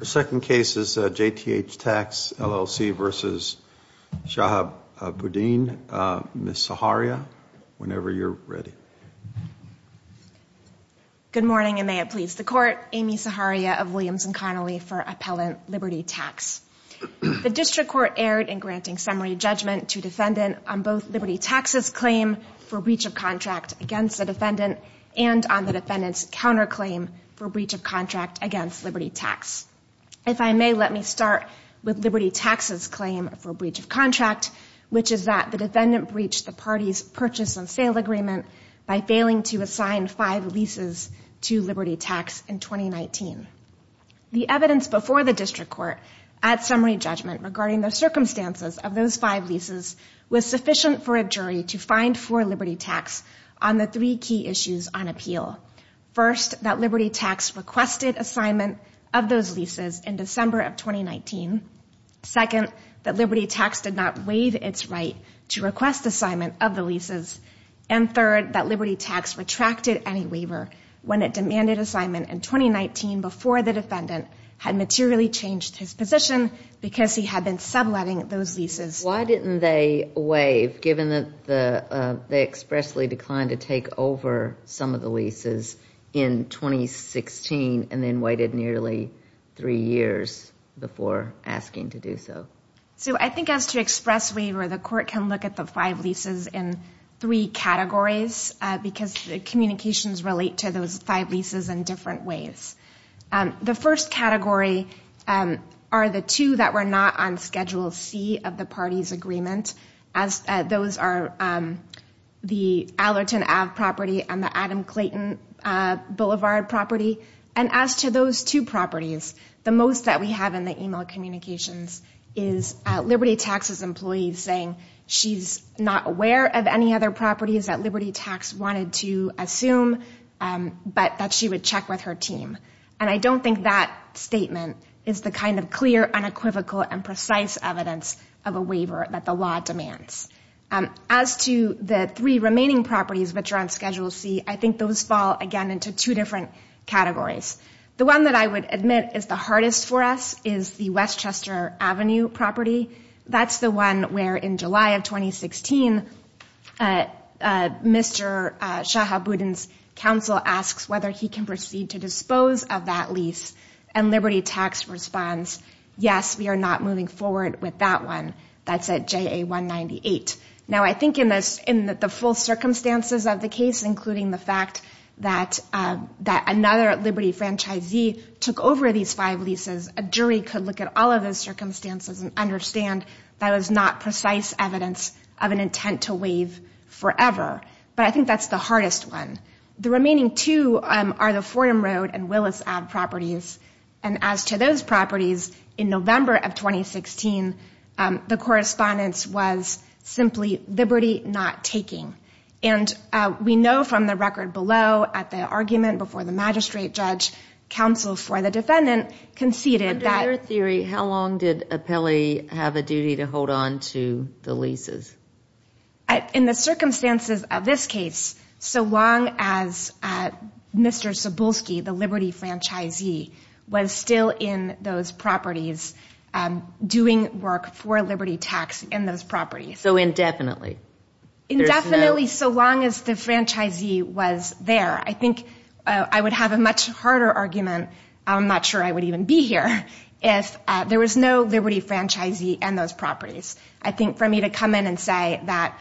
Good morning, and may it please the Court. Amy Saharia of Williams & Connolly for Appellant Liberty Tax. The District Court erred in granting summary judgment to defendant on both Liberty Tax and the defendant's counterclaim for breach of contract against Liberty Tax. If I may, let me start with Liberty Tax's claim for breach of contract, which is that the defendant breached the party's purchase and sale agreement by failing to assign five leases to Liberty Tax in 2019. The evidence before the District Court at summary judgment regarding the circumstances of those five leases was sufficient for a jury to find for Liberty Tax on the three key issues on appeal. First, that Liberty Tax requested assignment of those leases in December of 2019. Second, that Liberty Tax did not waive its right to request assignment of the leases. And third, that Liberty Tax retracted any waiver when it demanded assignment in 2019 before the defendant had materially changed his position because he had been subletting those leases. Why didn't they waive given that they expressly declined to take over some of the leases in 2016 and then waited nearly three years before asking to do so? So I think as to express waiver, the Court can look at the five leases in three categories because the communications relate to those five leases in different ways. The first category are the two that were not on Schedule C of the party's agreement. Those are the Allerton Ave property and the Adam Clayton Boulevard property. And as to those two properties, the most that we have in the email communications is Liberty Tax's employees saying she's not aware of any other properties that Liberty Tax wanted to assume, but that she would check with her team. And I don't think that statement is the kind of clear, unequivocal, and precise evidence of a waiver that the law demands. As to the three remaining properties which are on Schedule C, I think those fall again into two different categories. The one that I would admit is the hardest for us is the Westchester Avenue property. That's the one where in July of 2016, Mr. Shahabudin's counsel asks whether he can proceed to dispose of that lease, and Liberty Tax responds, yes, we are not moving forward with that one. That's at JA 198. Now I think in the full circumstances of the case, including the fact that another Liberty franchisee took over these five leases, a jury could look at all of those circumstances and understand that was not precise evidence of an intent to waive forever. But I think that's the hardest one. The remaining two are the Fordham Road and Willis Ave. properties. And as to those properties, in November of 2016, the correspondence was simply, Liberty not taking. And we know from the record below at the argument before the magistrate judge, counsel for the defendant, conceded that Under your theory, how long did Apelli have a duty to hold on to the leases? In the circumstances of this case, so long as Mr. Cebulski, the Liberty franchisee, was still in those properties doing work for Liberty Tax in those properties. So indefinitely? Indefinitely, so long as the franchisee was there. I think I would have a much harder argument, I'm not sure I would even be here, if there was no Liberty franchisee in those properties, to say that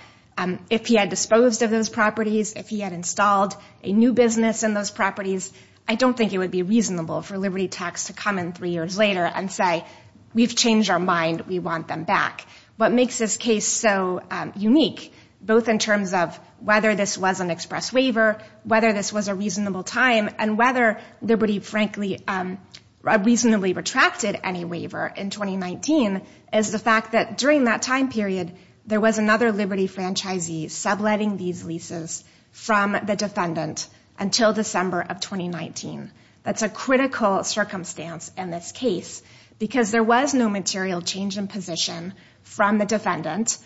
if he had disposed of those properties, if he had installed a new business in those properties, I don't think it would be reasonable for Liberty Tax to come in three years later and say, we've changed our mind, we want them back. What makes this case so unique, both in terms of whether this was an express waiver, whether this was a reasonable time, and whether Liberty, frankly, reasonably retracted any waiver in 2019, is the fact that during that time period, there was another Liberty franchisee subletting these leases from the defendant until December of 2019. That's a critical circumstance in this case, because there was no material change in position from the defendant.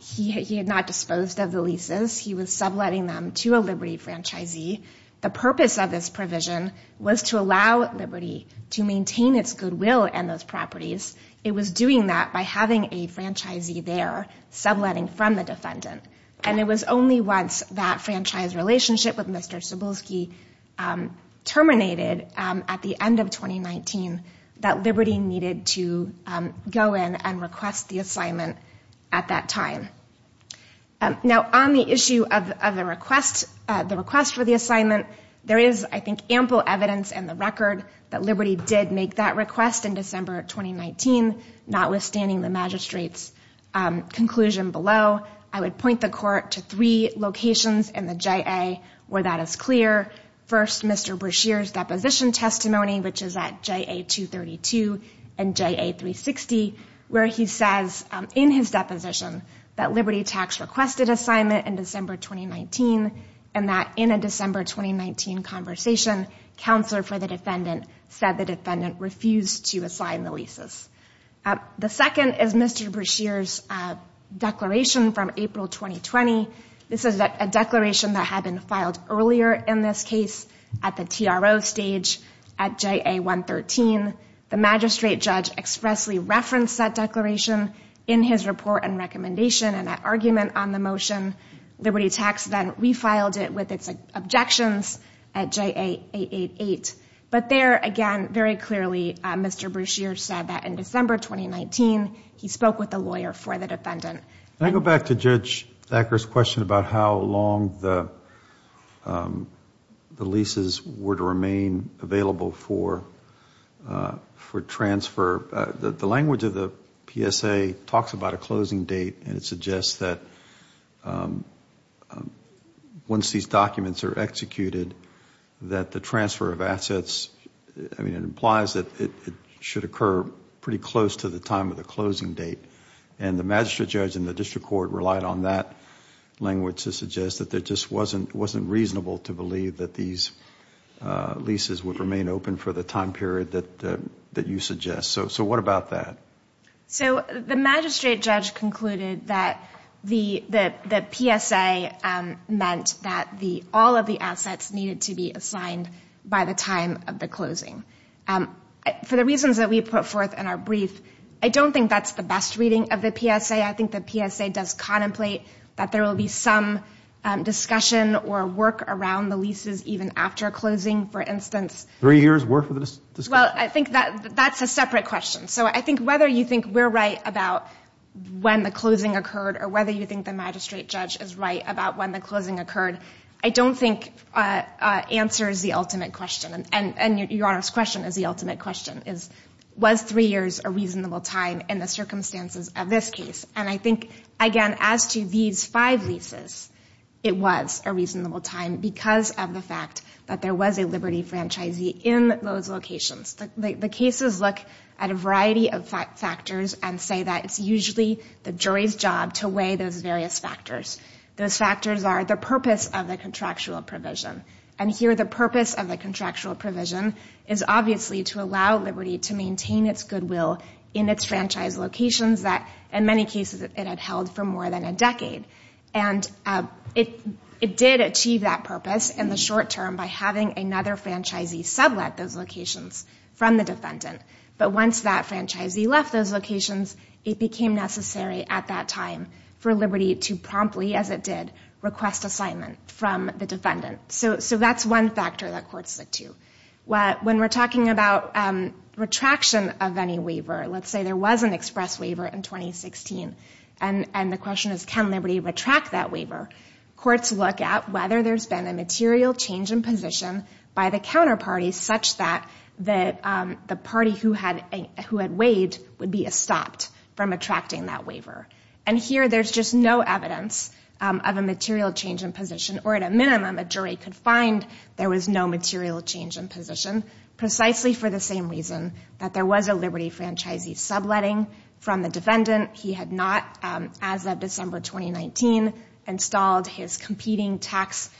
He had not disposed of the leases, he was subletting them to a Liberty franchisee. The purpose of this provision was to allow Liberty to maintain its goodwill in those properties. It was doing that by having a franchisee there subletting from the defendant. And it was only once that franchise relationship with Mr. Cebulski terminated at the end of 2019 that Liberty needed to go in and request the assignment at that time. Now, on the issue of the request for the assignment, there is, I think, ample evidence in the record that Liberty did make that request in December of 2019, notwithstanding the magistrate's conclusion below. I would point the court to three locations in the JA where that is clear. First, Mr. Brashear's deposition testimony, which is at JA 232 and JA 360, where he says in his deposition that Liberty tax requested assignment in December 2019, and that in a December 2019 conversation, counselor for the defendant said the defendant refused to assign the leases. The second is Mr. Brashear's declaration from April 2020. This is a declaration that had been filed earlier in this case at the TRO stage at JA 113. The magistrate judge expressly referenced that declaration in his report and recommendation and that argument on the motion. Liberty tax then refiled it with its objections at JA 888. But there, again, very clearly, Mr. Brashear said that in December 2019, he spoke with the lawyer for the defendant. Can I go back to Judge Thacker's question about how long the leases were to remain available for transfer? The language of the PSA talks about a closing date and it suggests that once these documents are executed, that the transfer of assets... I mean, it implies that it should occur pretty close to the time of the closing date. The magistrate judge and the district court relied on that language to suggest that there just wasn't reasonable to believe that these leases would remain open for the time period that you suggest. So what about that? So the magistrate judge concluded that the PSA meant that all of the assets needed to be assigned by the time of the closing. For the reasons that we put forth in our brief, I don't think that's the best reading of the PSA. I think the PSA does contemplate that there will be some discussion or work around the leases even after closing. For instance... Three years worth of discussion? Well, I think that's a separate question. So I think whether you think we're right about when the closing occurred or whether you think the magistrate judge is right about when the closing occurred, I don't think answers the ultimate question. And Your Honor's question is the ultimate question, is was three years a reasonable time in the circumstances of this case? And I think, again, as to these five leases, it was a reasonable time because of the fact that there was a Liberty franchisee in those locations. The cases look at a variety of factors and say that it's usually the jury's job to weigh those various factors. Those factors are the purpose of the contractual provision. And here the purpose of the contractual provision is obviously to allow Liberty to maintain its goodwill in its franchise locations that, in many cases, it had held for more than a decade. And it did achieve that purpose in the short term by having another franchisee sublet those locations from the defendant. But once that franchisee left those locations, it became necessary at that time for Liberty to promptly, as it did, request assignment from the defendant. So that's one factor that courts look to. When we're talking about retraction of any waiver, let's say there was an express waiver in 2016, and the question is can Liberty retract that waiver, courts look at whether there's been a material change in position by the counterparty such that the party who had weighed would be stopped from retracting that waiver. And here there's just no evidence of a material change in position or, at a minimum, a jury could find there was no material change in position, precisely for the same reason that there was a Liberty franchisee subletting from the defendant. He had not, as of December 2019, installed his competing tax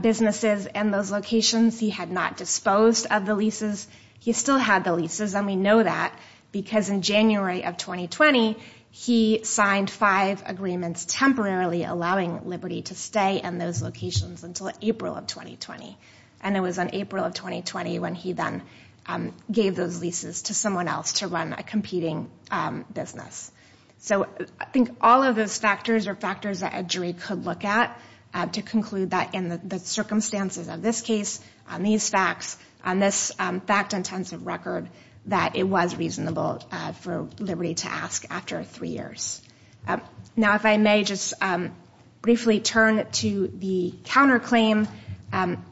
businesses in those locations. He had not disposed of the leases. He still had the leases, and we know that because in January of 2020, he signed five agreements temporarily allowing Liberty to stay in those locations until April of 2020. And it was in April of 2020 when he then gave those leases to someone else to run a competing business. So I think all of those factors are factors that a jury could look at to conclude that in the circumstances of this case, on these facts, on this fact-intensive record, that it was reasonable for Liberty to ask after three years. Now, if I may just briefly turn to the counterclaim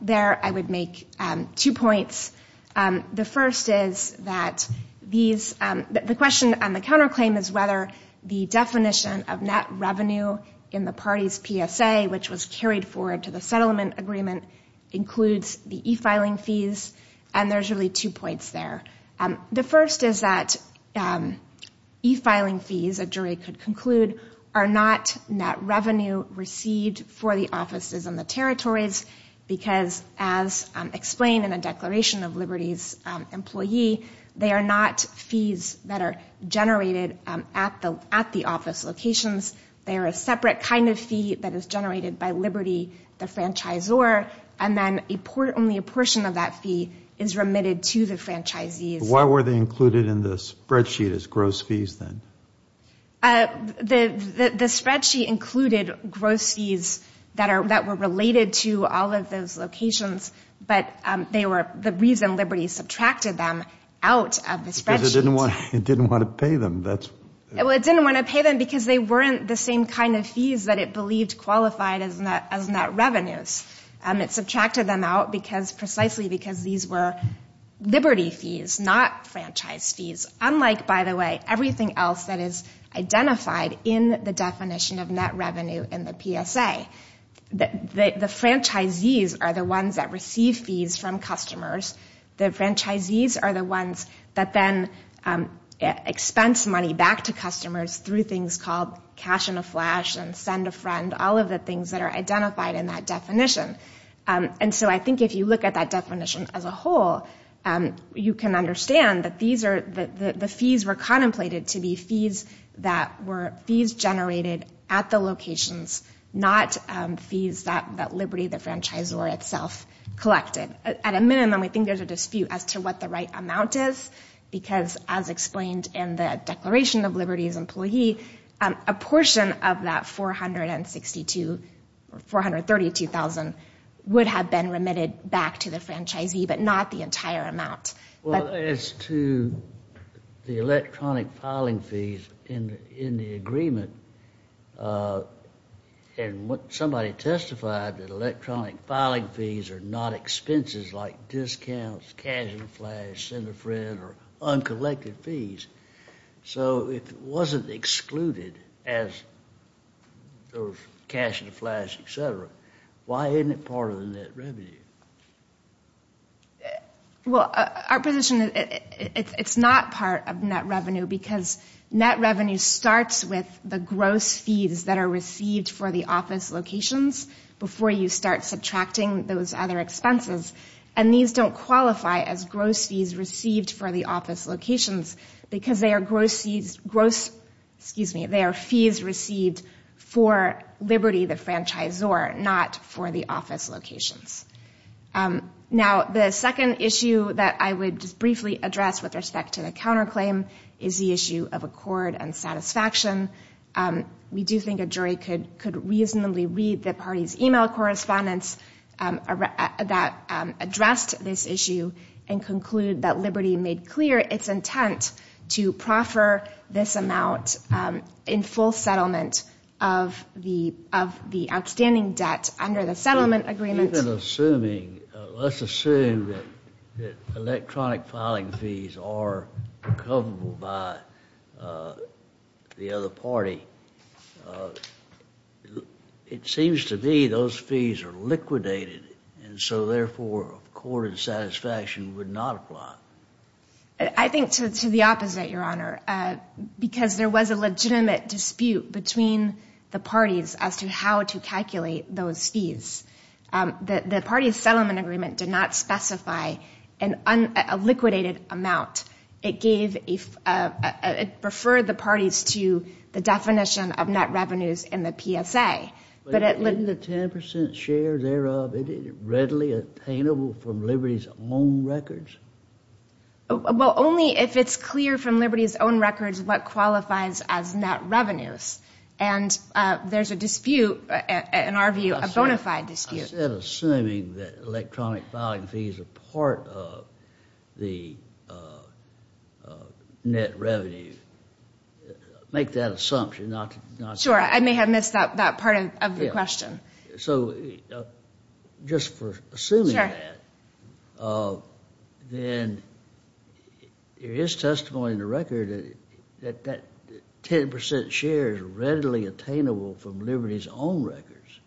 there, I would make two points. The first is that these, the question on the counterclaim is whether the definition of net revenue in the party's PSA, which was carried forward to the settlement agreement, includes the e-filing fees. And there's really two points there. The first is that e-filing fees, a jury could conclude, are not net revenue received for the offices and the territories, because as explained in a declaration of Liberty's employee, they are not fees that are generated at the office locations. They are a separate kind of fee that is generated by Liberty, the franchisor, and then only a portion of that fee is remitted to the franchisees. Why were they included in the spreadsheet as gross fees, then? The spreadsheet included gross fees that were related to all of those locations, but they were the reason Liberty subtracted them out of the spreadsheet. Because it didn't want to pay them. Well, it didn't want to pay them because they weren't the same kind of fees that it believed qualified as net revenues. It subtracted them out precisely because these were Liberty fees, not franchise fees, unlike, by the way, everything else that is identified in the definition of net revenue in the PSA. The franchisees are the ones that receive fees from customers. The franchisees are the ones that then expense money back to customers through things called cash in a flash and send a friend, all of the things that are identified in that definition. And so I think if you look at that definition as a whole, you can understand that these are the fees were contemplated to be fees that were fees generated at the locations, not fees that Liberty, the franchisor, itself collected. At a minimum, we think there's a dispute as to what the right amount is because, as explained in the Declaration of Liberty's employee, a portion of that $432,000 would have been remitted back to the franchisee, but not the entire amount. Well, as to the electronic filing fees in the agreement, and somebody testified that electronic filing fees are not expenses like discounts, cash in a flash, send a friend, or uncollected fees, so if it wasn't excluded as cash in a flash, et cetera, why isn't it part of the net revenue? Well, our position is it's not part of net revenue because net revenue starts with the gross fees that are received for the office locations before you start subtracting those other expenses, and these don't qualify as gross fees received for the office locations because they are fees received for Liberty, the franchisor, not for the office locations. Now, the second issue that I would just briefly address with respect to the counterclaim is the issue of accord and satisfaction. We do think a jury could reasonably read the party's email correspondence that addressed this issue and concluded that Liberty made clear its intent to proffer this amount in full settlement of the outstanding debt under the settlement agreement. Let's assume that electronic filing fees are recoverable by the other party. It seems to me those fees are liquidated, and so, therefore, accord and satisfaction would not apply. I think to the opposite, Your Honor, because there was a legitimate dispute between the parties, the settlement agreement did not specify a liquidated amount. It gave, it referred the parties to the definition of net revenues in the PSA. But isn't the 10% share thereof readily attainable from Liberty's own records? Well, only if it's clear from Liberty's own records what qualifies as net revenues, and there's a dispute, in our view, a bona fide dispute. Instead of assuming that electronic filing fees are part of the net revenues, make that assumption. Sure. I may have missed that part of the question. So just for assuming that, then there is testimony in the record that that 10% share is readily attainable from Liberty's own records,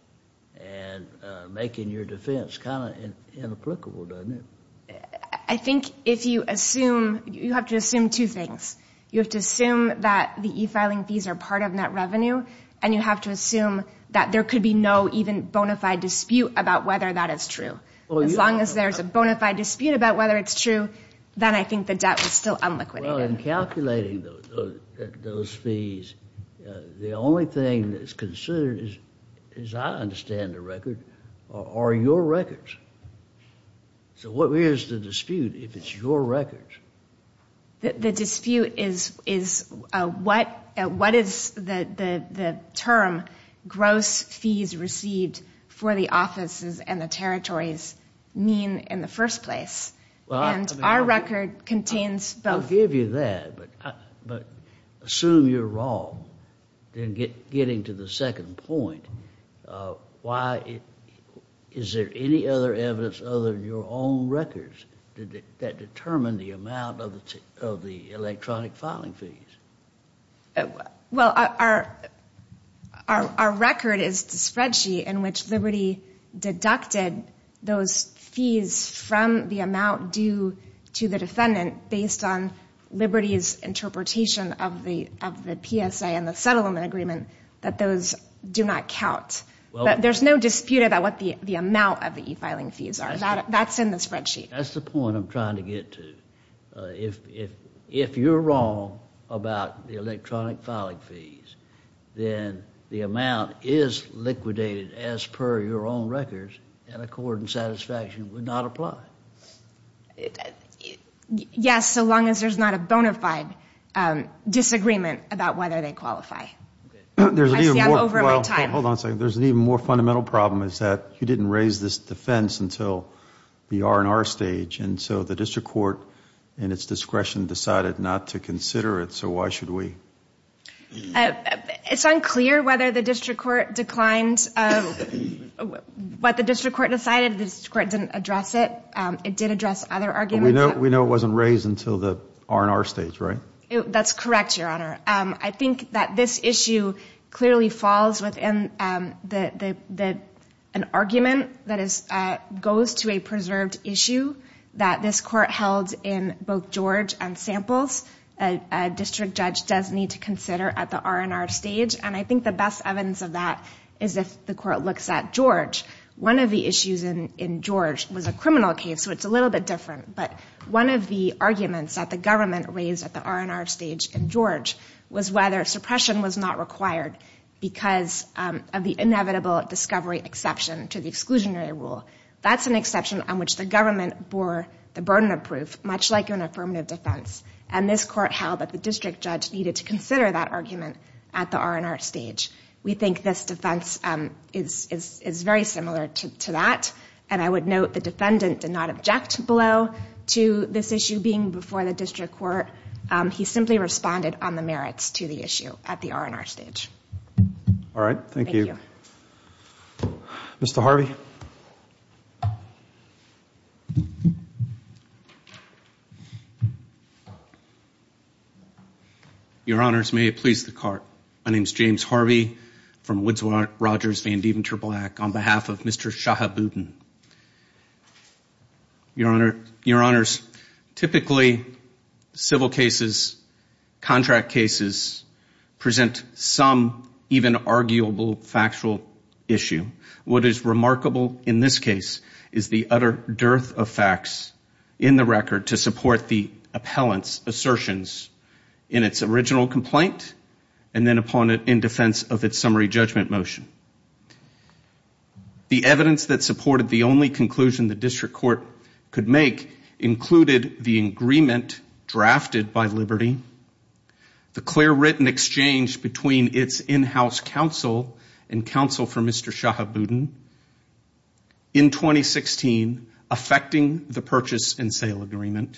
and making your defense kind of inapplicable, doesn't it? I think if you assume, you have to assume two things. You have to assume that the e-filing fees are part of net revenue, and you have to assume that there could be no even bona fide dispute about whether that is true. As long as there's a bona fide dispute about whether it's true, then I think the debt is still unliquidated. In calculating those fees, the only thing that's considered, as I understand the record, are your records. So what is the dispute if it's your records? The dispute is what is the term gross fees received for the offices and the territories mean in the first place? And our record contains both. I'll give you that, but assume you're wrong in getting to the second point. Is there any other evidence other than your own records that determine the amount of the electronic filing fees? Well, our record is the spreadsheet in which Liberty deducted those fees from the due to the defendant based on Liberty's interpretation of the PSA and the settlement agreement that those do not count. There's no dispute about what the amount of the e-filing fees are. That's in the spreadsheet. That's the point I'm trying to get to. If you're wrong about the electronic filing fees, then the amount is liquidated as per your own records, and accord and satisfaction would not apply. It, yes, so long as there's not a bona fide disagreement about whether they qualify. There's an even more fundamental problem is that you didn't raise this defense until we are in our stage. And so the district court in its discretion decided not to consider it. So why should we? It's unclear whether the district court declined what the district court decided. The district court didn't address it. It did address other arguments. We know it wasn't raised until the R&R stage, right? That's correct, Your Honor. I think that this issue clearly falls within an argument that goes to a preserved issue that this court held in both George and samples. A district judge does need to consider at the R&R stage. And I think the best evidence of that is if the court looks at George. One of the issues in George was a criminal case, so it's a little bit different. But one of the arguments that the government raised at the R&R stage in George was whether suppression was not required because of the inevitable discovery exception to the exclusionary rule. That's an exception on which the government bore the burden of proof, much like an affirmative defense. And this court held that the district judge needed to consider that argument at the R&R stage. We think this defense is very similar to that. And I would note the defendant did not object below to this issue being before the district court. He simply responded on the merits to the issue at the R&R stage. All right. Thank you. Mr. Harvey? Your Honors, may it please the Court. My name is James Harvey from Woods Rogers Van Deventer Black on behalf of Mr. Shahab Budin. Your Honors, typically civil cases, contract cases present some even arguable factual issue. What is remarkable in this case is the utter dearth of facts in the record to support the in defense of its summary judgment motion. The evidence that supported the only conclusion the district court could make included the agreement drafted by Liberty, the clear written exchange between its in-house counsel and counsel for Mr. Shahab Budin in 2016 affecting the purchase and sale agreement,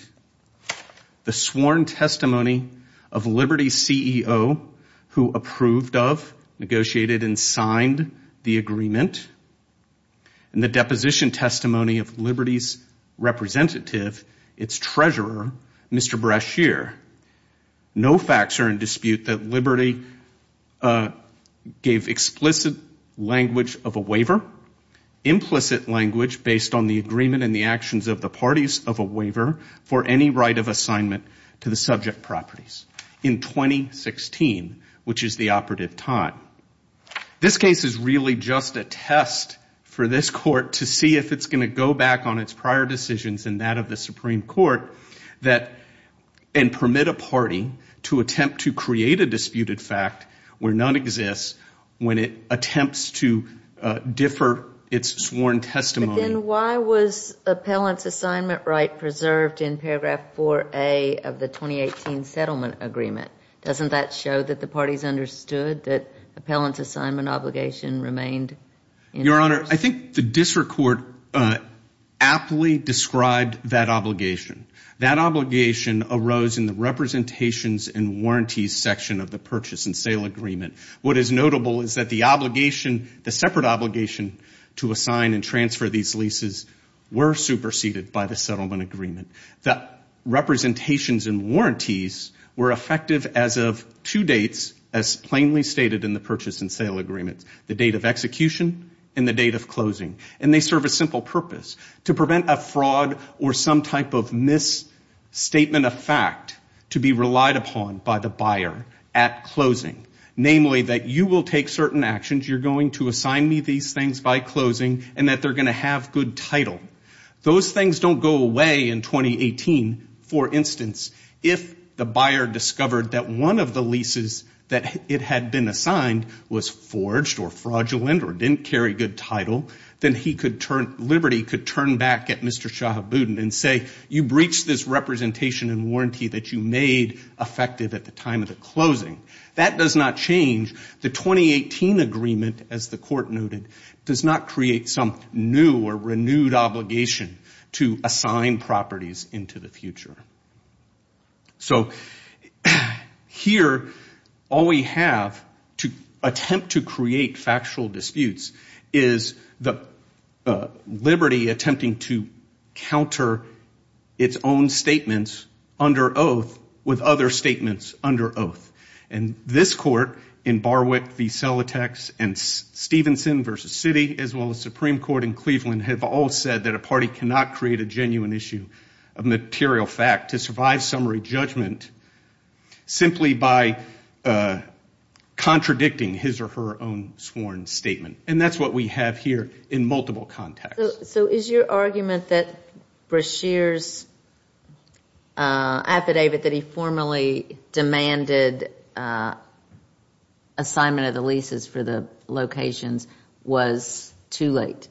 the sworn testimony of Liberty's CEO who approved of, negotiated, and signed the agreement, and the deposition testimony of Liberty's representative, its treasurer, Mr. Brashear. No facts are in dispute that Liberty gave explicit language of a waiver, implicit language based on the agreement and the actions of the parties of a waiver for any right of assignment to the subject properties in 2016, which is the operative time. This case is really just a test for this court to see if it's going to go back on its prior decisions and that of the Supreme Court that, and permit a party to attempt to create a disputed fact where none exists when it attempts to differ its sworn testimony. Then why was appellant's assignment right preserved in paragraph 4A of the 2018 settlement agreement? Doesn't that show that the parties understood that appellant's assignment obligation remained? Your Honor, I think the district court aptly described that obligation. That obligation arose in the representations and warranties section of the purchase and sale agreement. What is notable is that the obligation, the separate obligation to assign and transfer these leases were superseded by the settlement agreement. The representations and warranties were effective as of two dates, as plainly stated in the purchase and sale agreement, the date of execution and the date of closing. They serve a simple purpose, to prevent a fraud or some type of misstatement of fact to be relied upon by the buyer at closing. Namely, that you will take certain actions, you're going to assign me these things by closing and that they're going to have good title. Those things don't go away in 2018. For instance, if the buyer discovered that one of the leases that it had been assigned was forged or fraudulent or didn't carry good title, then he could turn, Liberty could turn back at Mr. Shahabuddin and say, you breached this representation and warranty that you made effective at the time of the closing. That does not change. The 2018 agreement, as the court noted, does not create some new or renewed obligation to assign properties into the future. So here, all we have to attempt to create factual disputes is the liberty attempting to counter its own statements under oath with other statements under oath. This court in Barwick v. Selatex and Stevenson v. City, as well as Supreme Court in Cleveland, have all said that a party cannot create a genuine issue of material fact to survive summary judgment simply by contradicting his or her own sworn statement. That's what we have here in multiple contexts. So is your argument that Brashear's affidavit that he formally demanded assignment of the leases for the locations was too late?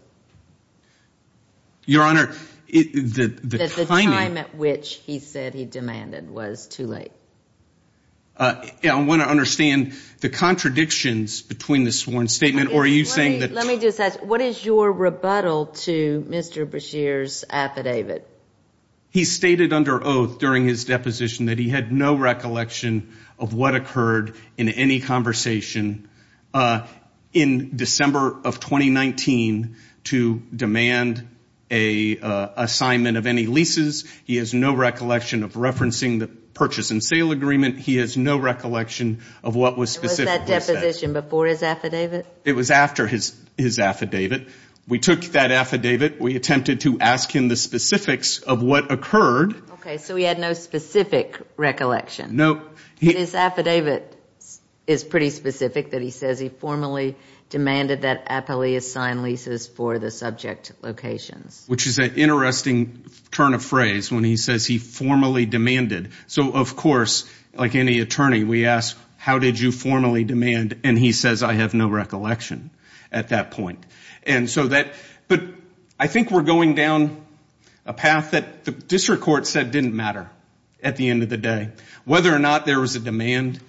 Your Honor, the timing... That the time at which he said he demanded was too late. I want to understand the contradictions between the sworn statement or are you saying that... Let me just ask, what is your rebuttal to Mr. Brashear's affidavit? He stated under oath during his deposition that he had no recollection of what occurred in any conversation in December of 2019 to demand a assignment of any leases. He has no recollection of referencing the purchase and sale agreement. He has no recollection of what was specifically said. Was that deposition before his affidavit? It was after his affidavit. We took that affidavit. We attempted to ask him the specifics of what occurred. Okay, so he had no specific recollection. No. His affidavit is pretty specific that he says he formally demanded that Appellee assign leases for the subject locations. Which is an interesting turn of phrase when he says he formally demanded. So of course, like any attorney, we ask, how did you formally demand? And he says, I have no recollection at that point. But I think we're going down a path that the district court said didn't matter at the end of the day. Whether or not there was a demand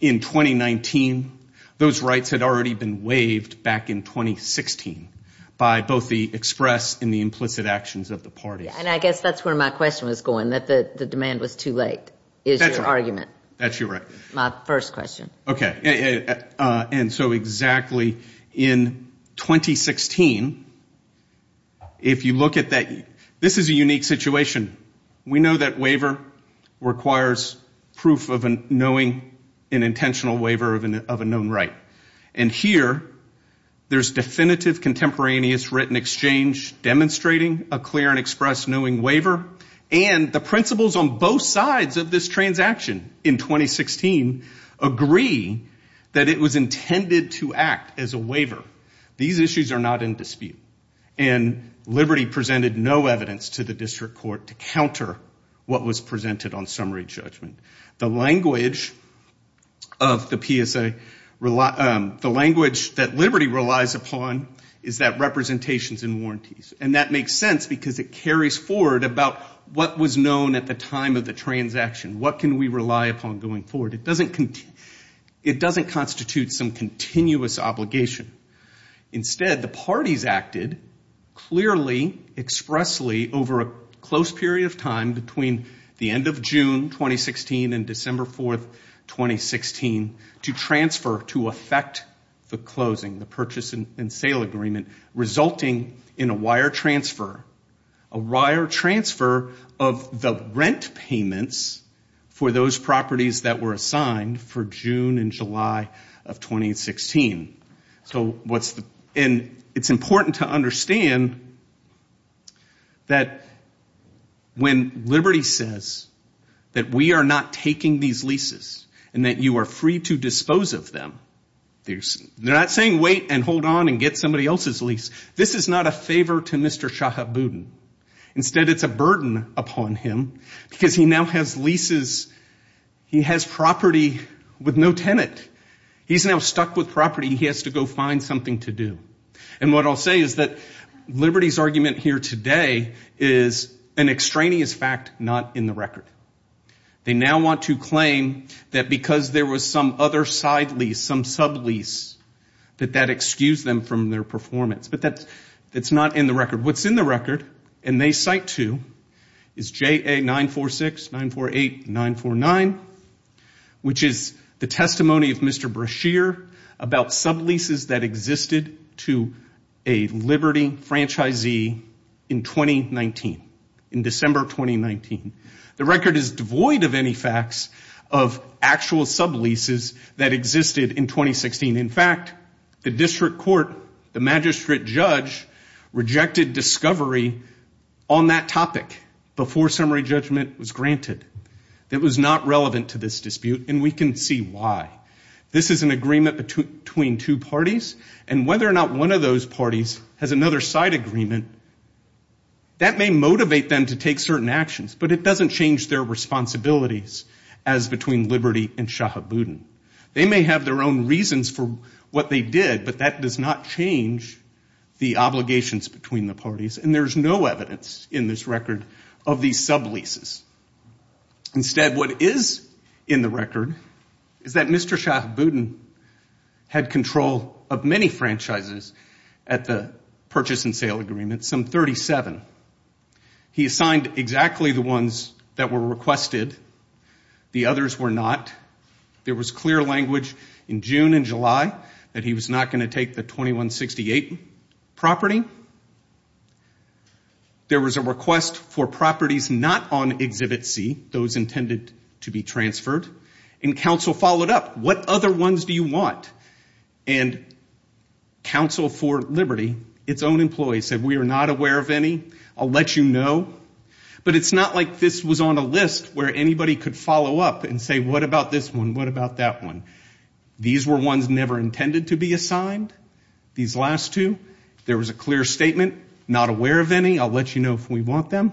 in 2019, those rights had already been waived back in 2016 by both the express and the implicit actions of the parties. And I guess that's where my question was going, that the demand was too late, is your argument. That's your argument. My first question. Okay. And so exactly in 2016, if you look at that, this is a unique situation. We know that waiver requires proof of knowing an intentional waiver of a known right. And here, there's definitive contemporaneous written exchange demonstrating a clear and express knowing waiver. And the principles on both sides of this transaction in 2016 agree that it was intended to act as a waiver. These issues are not in dispute. And Liberty presented no evidence to the district court to counter what was presented on summary judgment. The language of the PSA, the language that Liberty relies upon is that representations and warranties. And that makes sense because it carries forward about what was known at the time of the transaction. What can we rely upon going forward? It doesn't constitute some continuous obligation. Instead, the parties acted clearly, expressly over a close period of time between the end of June 2016 and December 4th, 2016 to transfer to effect the closing, the purchase and sale agreement resulting in a wire transfer. A wire transfer of the rent payments for those properties that were assigned for June and July of 2016. So what's the... And it's important to understand that when Liberty says that we are not taking these leases and that you are free to dispose of them, they're not saying wait and hold on and get somebody else's lease. This is not a favor to Mr. Shahabuddin. Instead, it's a burden upon him because he now has leases, he has property with no tenant. He's now stuck with property. He has to go find something to do. And what I'll say is that Liberty's argument here today is an extraneous fact not in the record. They now want to claim that because there was some other side lease, some sublease, that that excused them from their performance. But that's not in the record. What's in the record and they cite to is JA 946, 948, 949, which is the testimony of Mr. Brashear about subleases that existed to a Liberty franchisee in 2019, in December 2019. The record is devoid of any facts of actual subleases that existed in 2016. In fact, the district court, the magistrate judge rejected discovery on that topic before summary judgment was granted. That was not relevant to this dispute and we can see why. This is an agreement between two parties and whether or not one of those parties has another side agreement, that may motivate them to take certain actions, but it doesn't change their responsibilities as between Liberty and Shahabuddin. They may have their own reasons for what they did, but that does not change the obligations between the parties and there's no evidence in this record of these subleases. Instead, what is in the record is that Mr. Shahabuddin had control of many franchises at the purchase and sale agreement, some 37. He assigned exactly the ones that were requested. The others were not. There was clear language in June and July that he was not going to take the 2168 property. There was a request for properties not on Exhibit C, those intended to be transferred, and counsel followed up. What other ones do you want? And counsel for Liberty, its own employees, said, we are not aware of any. I'll let you know. But it's not like this was on a list where anybody could follow up and say, what about this one? What about that one? These were ones never intended to be assigned, these last two. There was a clear statement, not aware of any. I'll let you know if we want them.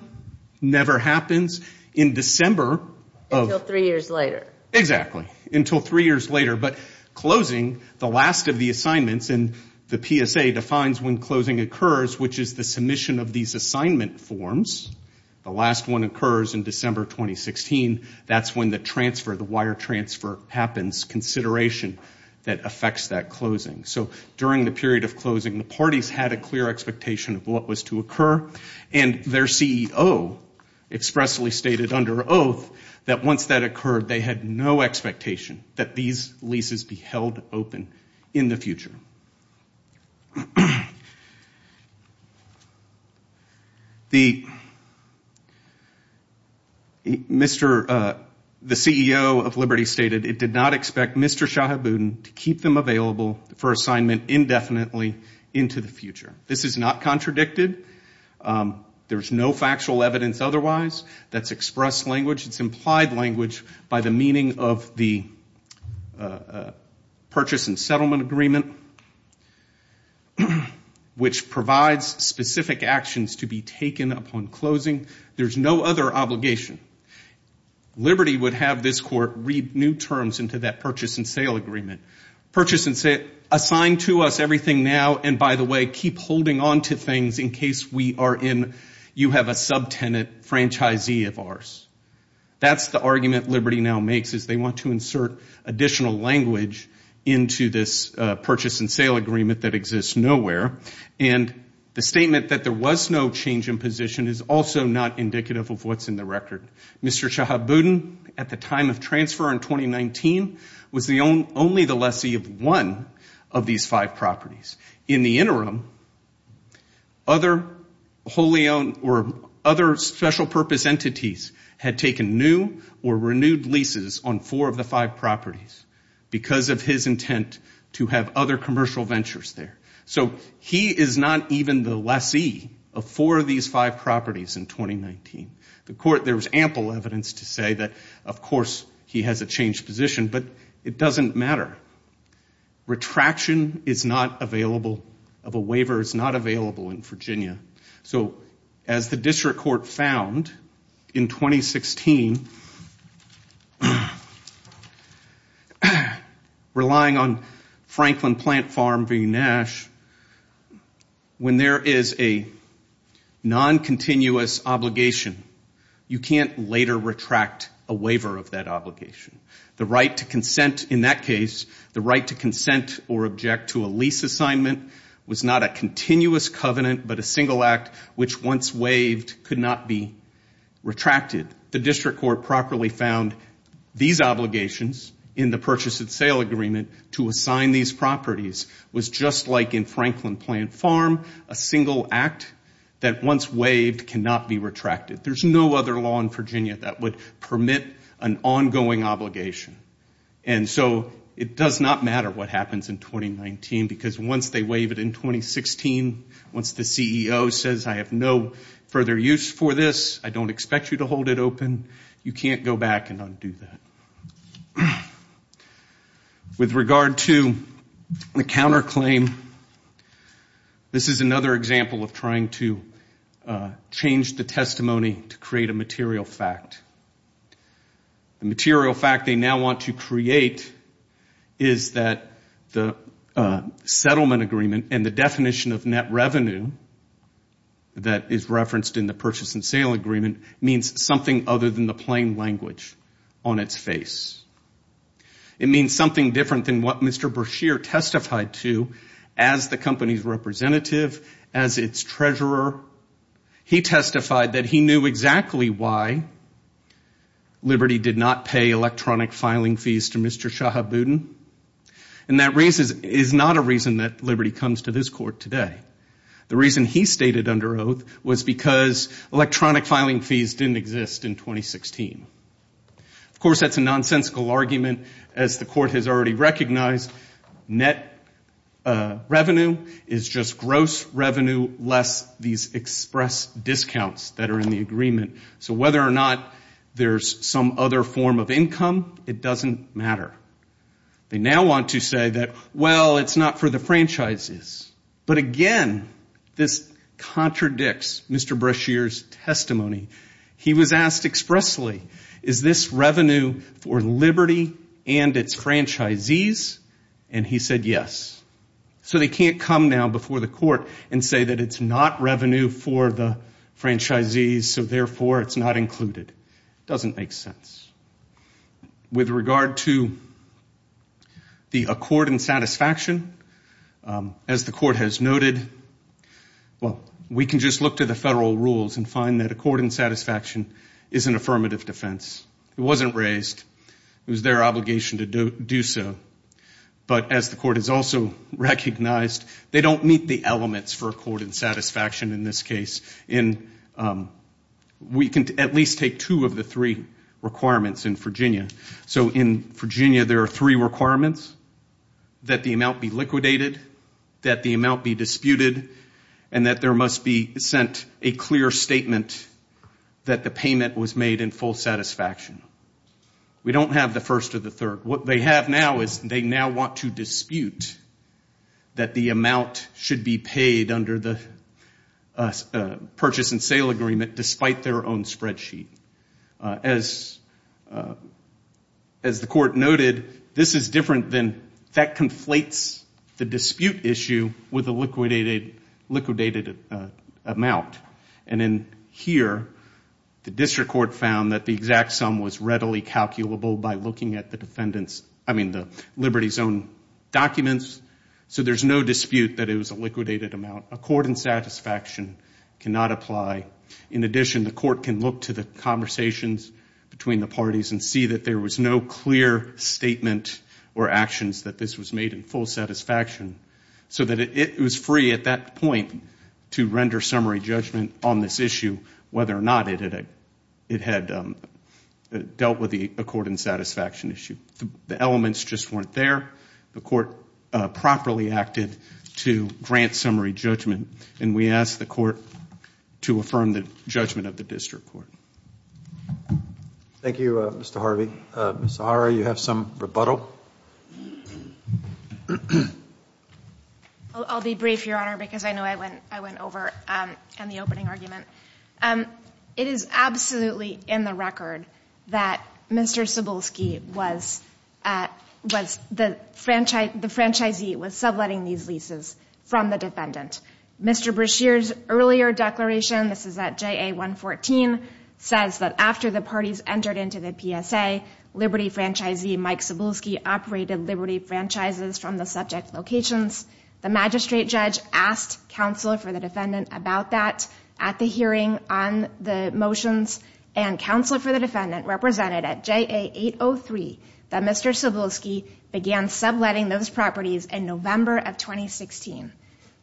Never happens in December. Until three years later. Exactly. Until three years later. But closing, the last of the assignments, and the PSA defines when closing occurs, which is the submission of these assignment forms. The last one occurs in December 2016. That's when the transfer, the wire transfer happens, consideration that affects that closing. So during the period of closing, the parties had a clear expectation of what was to occur. And their CEO expressly stated under oath that once that occurred, they had no expectation that these leases be held open in the future. The CEO of Liberty stated, it did not expect Mr. Shahabuddin to keep them available for assignment indefinitely into the future. This is not contradicted. There's no factual evidence otherwise. That's expressed language. of the purchase and settlement agreement that was signed by the CEO of Liberty. which provides specific actions to be taken upon closing. There's no other obligation. Liberty would have this court read new terms into that purchase and sale agreement. Purchase and sale, assign to us everything now, and by the way, keep holding on to things in case we are in, you have a subtenant franchisee of ours. That's the argument Liberty now makes is they want to insert additional language into this purchase and sale agreement that exists nowhere. And the statement that there was no change in position is also not indicative of what's in the record. Mr. Shahabuddin at the time of transfer in 2019 was only the lessee of one of these five properties. In the interim, other wholly owned or other special purpose entities had taken new or renewed leases on four of the five properties. Because of his intent to have other commercial ventures there. So he is not even the lessee of four of these five properties in 2019. The court, there was ample evidence to say that of course he has a changed position, but it doesn't matter. Retraction is not available, of a waiver is not available in Virginia. So as the district court found in 2016, relying on Franklin Plant Farm v. Nash, when there is a non-continuous obligation, you can't later retract a waiver of that obligation. The right to consent in that case, the right to consent or object to a lease assignment was not a continuous covenant, but a single act which once waived could not be retracted. The district court properly found these obligations in the purchase and sale agreement to assign these properties was just like in Franklin Plant Farm, a single act that once waived cannot be retracted. There's no other law in Virginia that would permit an ongoing obligation. And so it does not matter what happens in 2019 because once they waive it in 2016, once the CEO says I have no further use for this, I don't expect you to hold it open, you can't go back and undo that. With regard to the counterclaim, this is another example of trying to change the testimony to create a material fact. The material fact they now want to create is that the settlement agreement and the definition of net revenue that is referenced in the purchase and sale agreement means something other than the plain language on its face. It means something different than what Mr. Brashear testified to as the company's representative, as its treasurer. He testified that he knew exactly why Liberty did not pay electronic filing fees to Mr. Shahabudin. And that is not a reason that Liberty comes to this court today. The reason he stated under oath was because electronic filing fees didn't exist in 2016. Of course, that's a nonsensical argument as the court has already recognized. Net revenue is just gross revenue less these express discounts that are in the agreement. So whether or not there's some other form of income, it doesn't matter. They now want to say that, well, it's not for the franchises. But again, this contradicts Mr. Brashear's testimony. He was asked expressly, is this revenue for Liberty and its franchisees? And he said, yes. So they can't come now before the court and say that it's not revenue for the franchisees, so therefore it's not included. It doesn't make sense. With regard to the accord and satisfaction, as the court has noted, well, we can just look to the federal rules and find that accord and satisfaction is an affirmative defense. It wasn't raised. It was their obligation to do so. But as the court has also recognized, they don't meet the elements for accord and satisfaction in this case. We can at least take two of the three requirements in Virginia. So in Virginia, there are three requirements. That the amount be liquidated, that the amount be disputed, and that there must be sent a clear statement that the payment was made in full satisfaction. We don't have the first or the third. What they have now is they now want to dispute that the amount should be paid under the purchase and sale agreement despite their own spreadsheet. As the court noted, this is different than that conflates the dispute issue with a liquidated amount. And in here, the district court found that the exact sum was readily calculable by looking at the defendants, I mean, the Liberty Zone documents. So there's no dispute that it was a liquidated amount. Accord and satisfaction cannot apply. In addition, the court can look to the conversations between the parties and see that there was no clear statement or actions that this was made in full satisfaction so that it was free at that point to render summary judgment on this issue whether or not it had dealt with the accord and satisfaction issue. The elements just weren't there. The court properly acted to grant summary judgment and we asked the court to affirm the judgment of the district court. Thank you, Mr. Harvey. Mr. Harvey, you have some rebuttal. I'll be brief, Your Honor, because I know I went over in the opening argument. It is absolutely in the record that Mr. Cebulski was the franchisee was subletting these leases from the defendant. Mr. Brashear's earlier declaration, this is at JA 114, says that after the parties entered into the PSA, Liberty franchisee Mike Cebulski operated Liberty franchises from the subject locations. The magistrate judge asked counsel for the defendant about that at the hearing on the motions and counsel for the defendant represented at JA 803 that Mr. Cebulski began subletting those properties in November of 2016.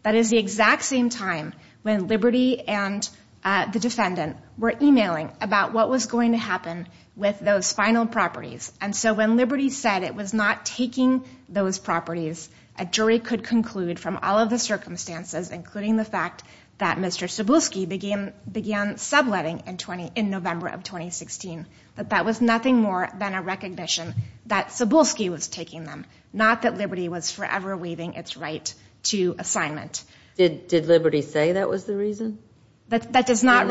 That is the exact same time when Liberty and the defendant were emailing about what was going to happen with those final properties. And so when Liberty said it was not taking those properties, a jury could conclude from all of the circumstances, including the fact that Mr. Cebulski began subletting in November of 2016, that that was nothing more than a recognition that Cebulski was taking them, not that Liberty was forever waiving its right to assignment. Did Liberty say that was the reason? It is not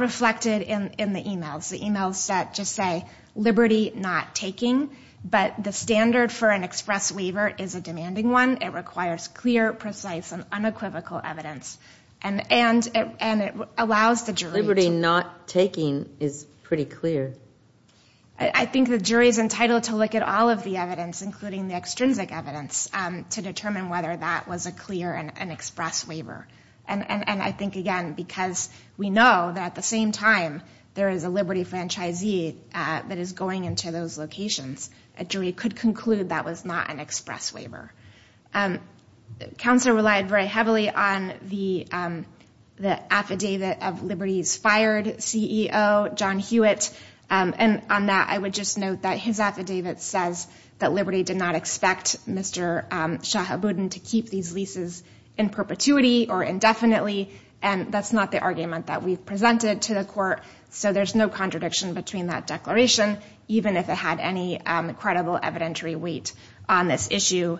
reflected in the emails. The emails that just say Liberty not taking, but the standard for an express waiver is a demanding one. It requires clear, precise, and unequivocal evidence. And it allows the jury- Liberty not taking is pretty clear. I think the jury is entitled to look at all of the evidence, including the extrinsic evidence, to determine whether that was a clear and express waiver. And I think, again, because we know that at the same time, there is a Liberty franchisee that is going into those locations, a jury could conclude that was not an express waiver. Counselor relied very heavily on the affidavit of Liberty's fired CEO, John Hewitt. And on that, I would just note that his affidavit says that Liberty did not expect Mr. Shahabudin to keep these leases in perpetuity or indefinitely. And that's not the argument that we've presented to the court. There's no contradiction between that declaration, even if it had any credible evidentiary weight on this issue.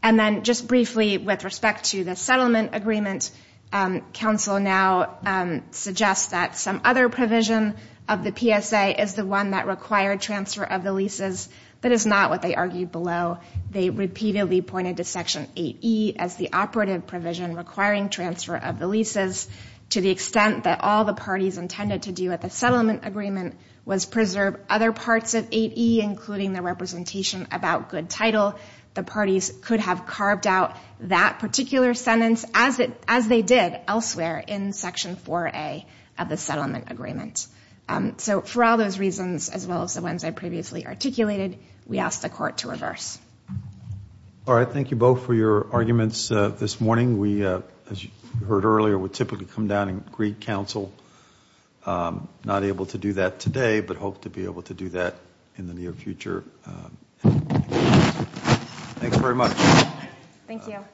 And then just briefly with respect to the settlement agreement, counsel now suggests that some other provision of the PSA is the one that required transfer of the leases, but it's not what they argued below. They repeatedly pointed to Section 8E as the operative provision requiring transfer of the leases to the extent that all the parties intended to do at the settlement agreement was preserve other parts of 8E, including the representation about good title. The parties could have carved out that particular sentence as they did elsewhere in Section 4A of the settlement agreement. So for all those reasons, as well as the ones I previously articulated, we asked the court to reverse. All right. Thank you both for your arguments this morning. As you heard earlier, we typically come down and greet counsel. Not able to do that today, but hope to be able to do that in the near future. Thanks very much. Thank you.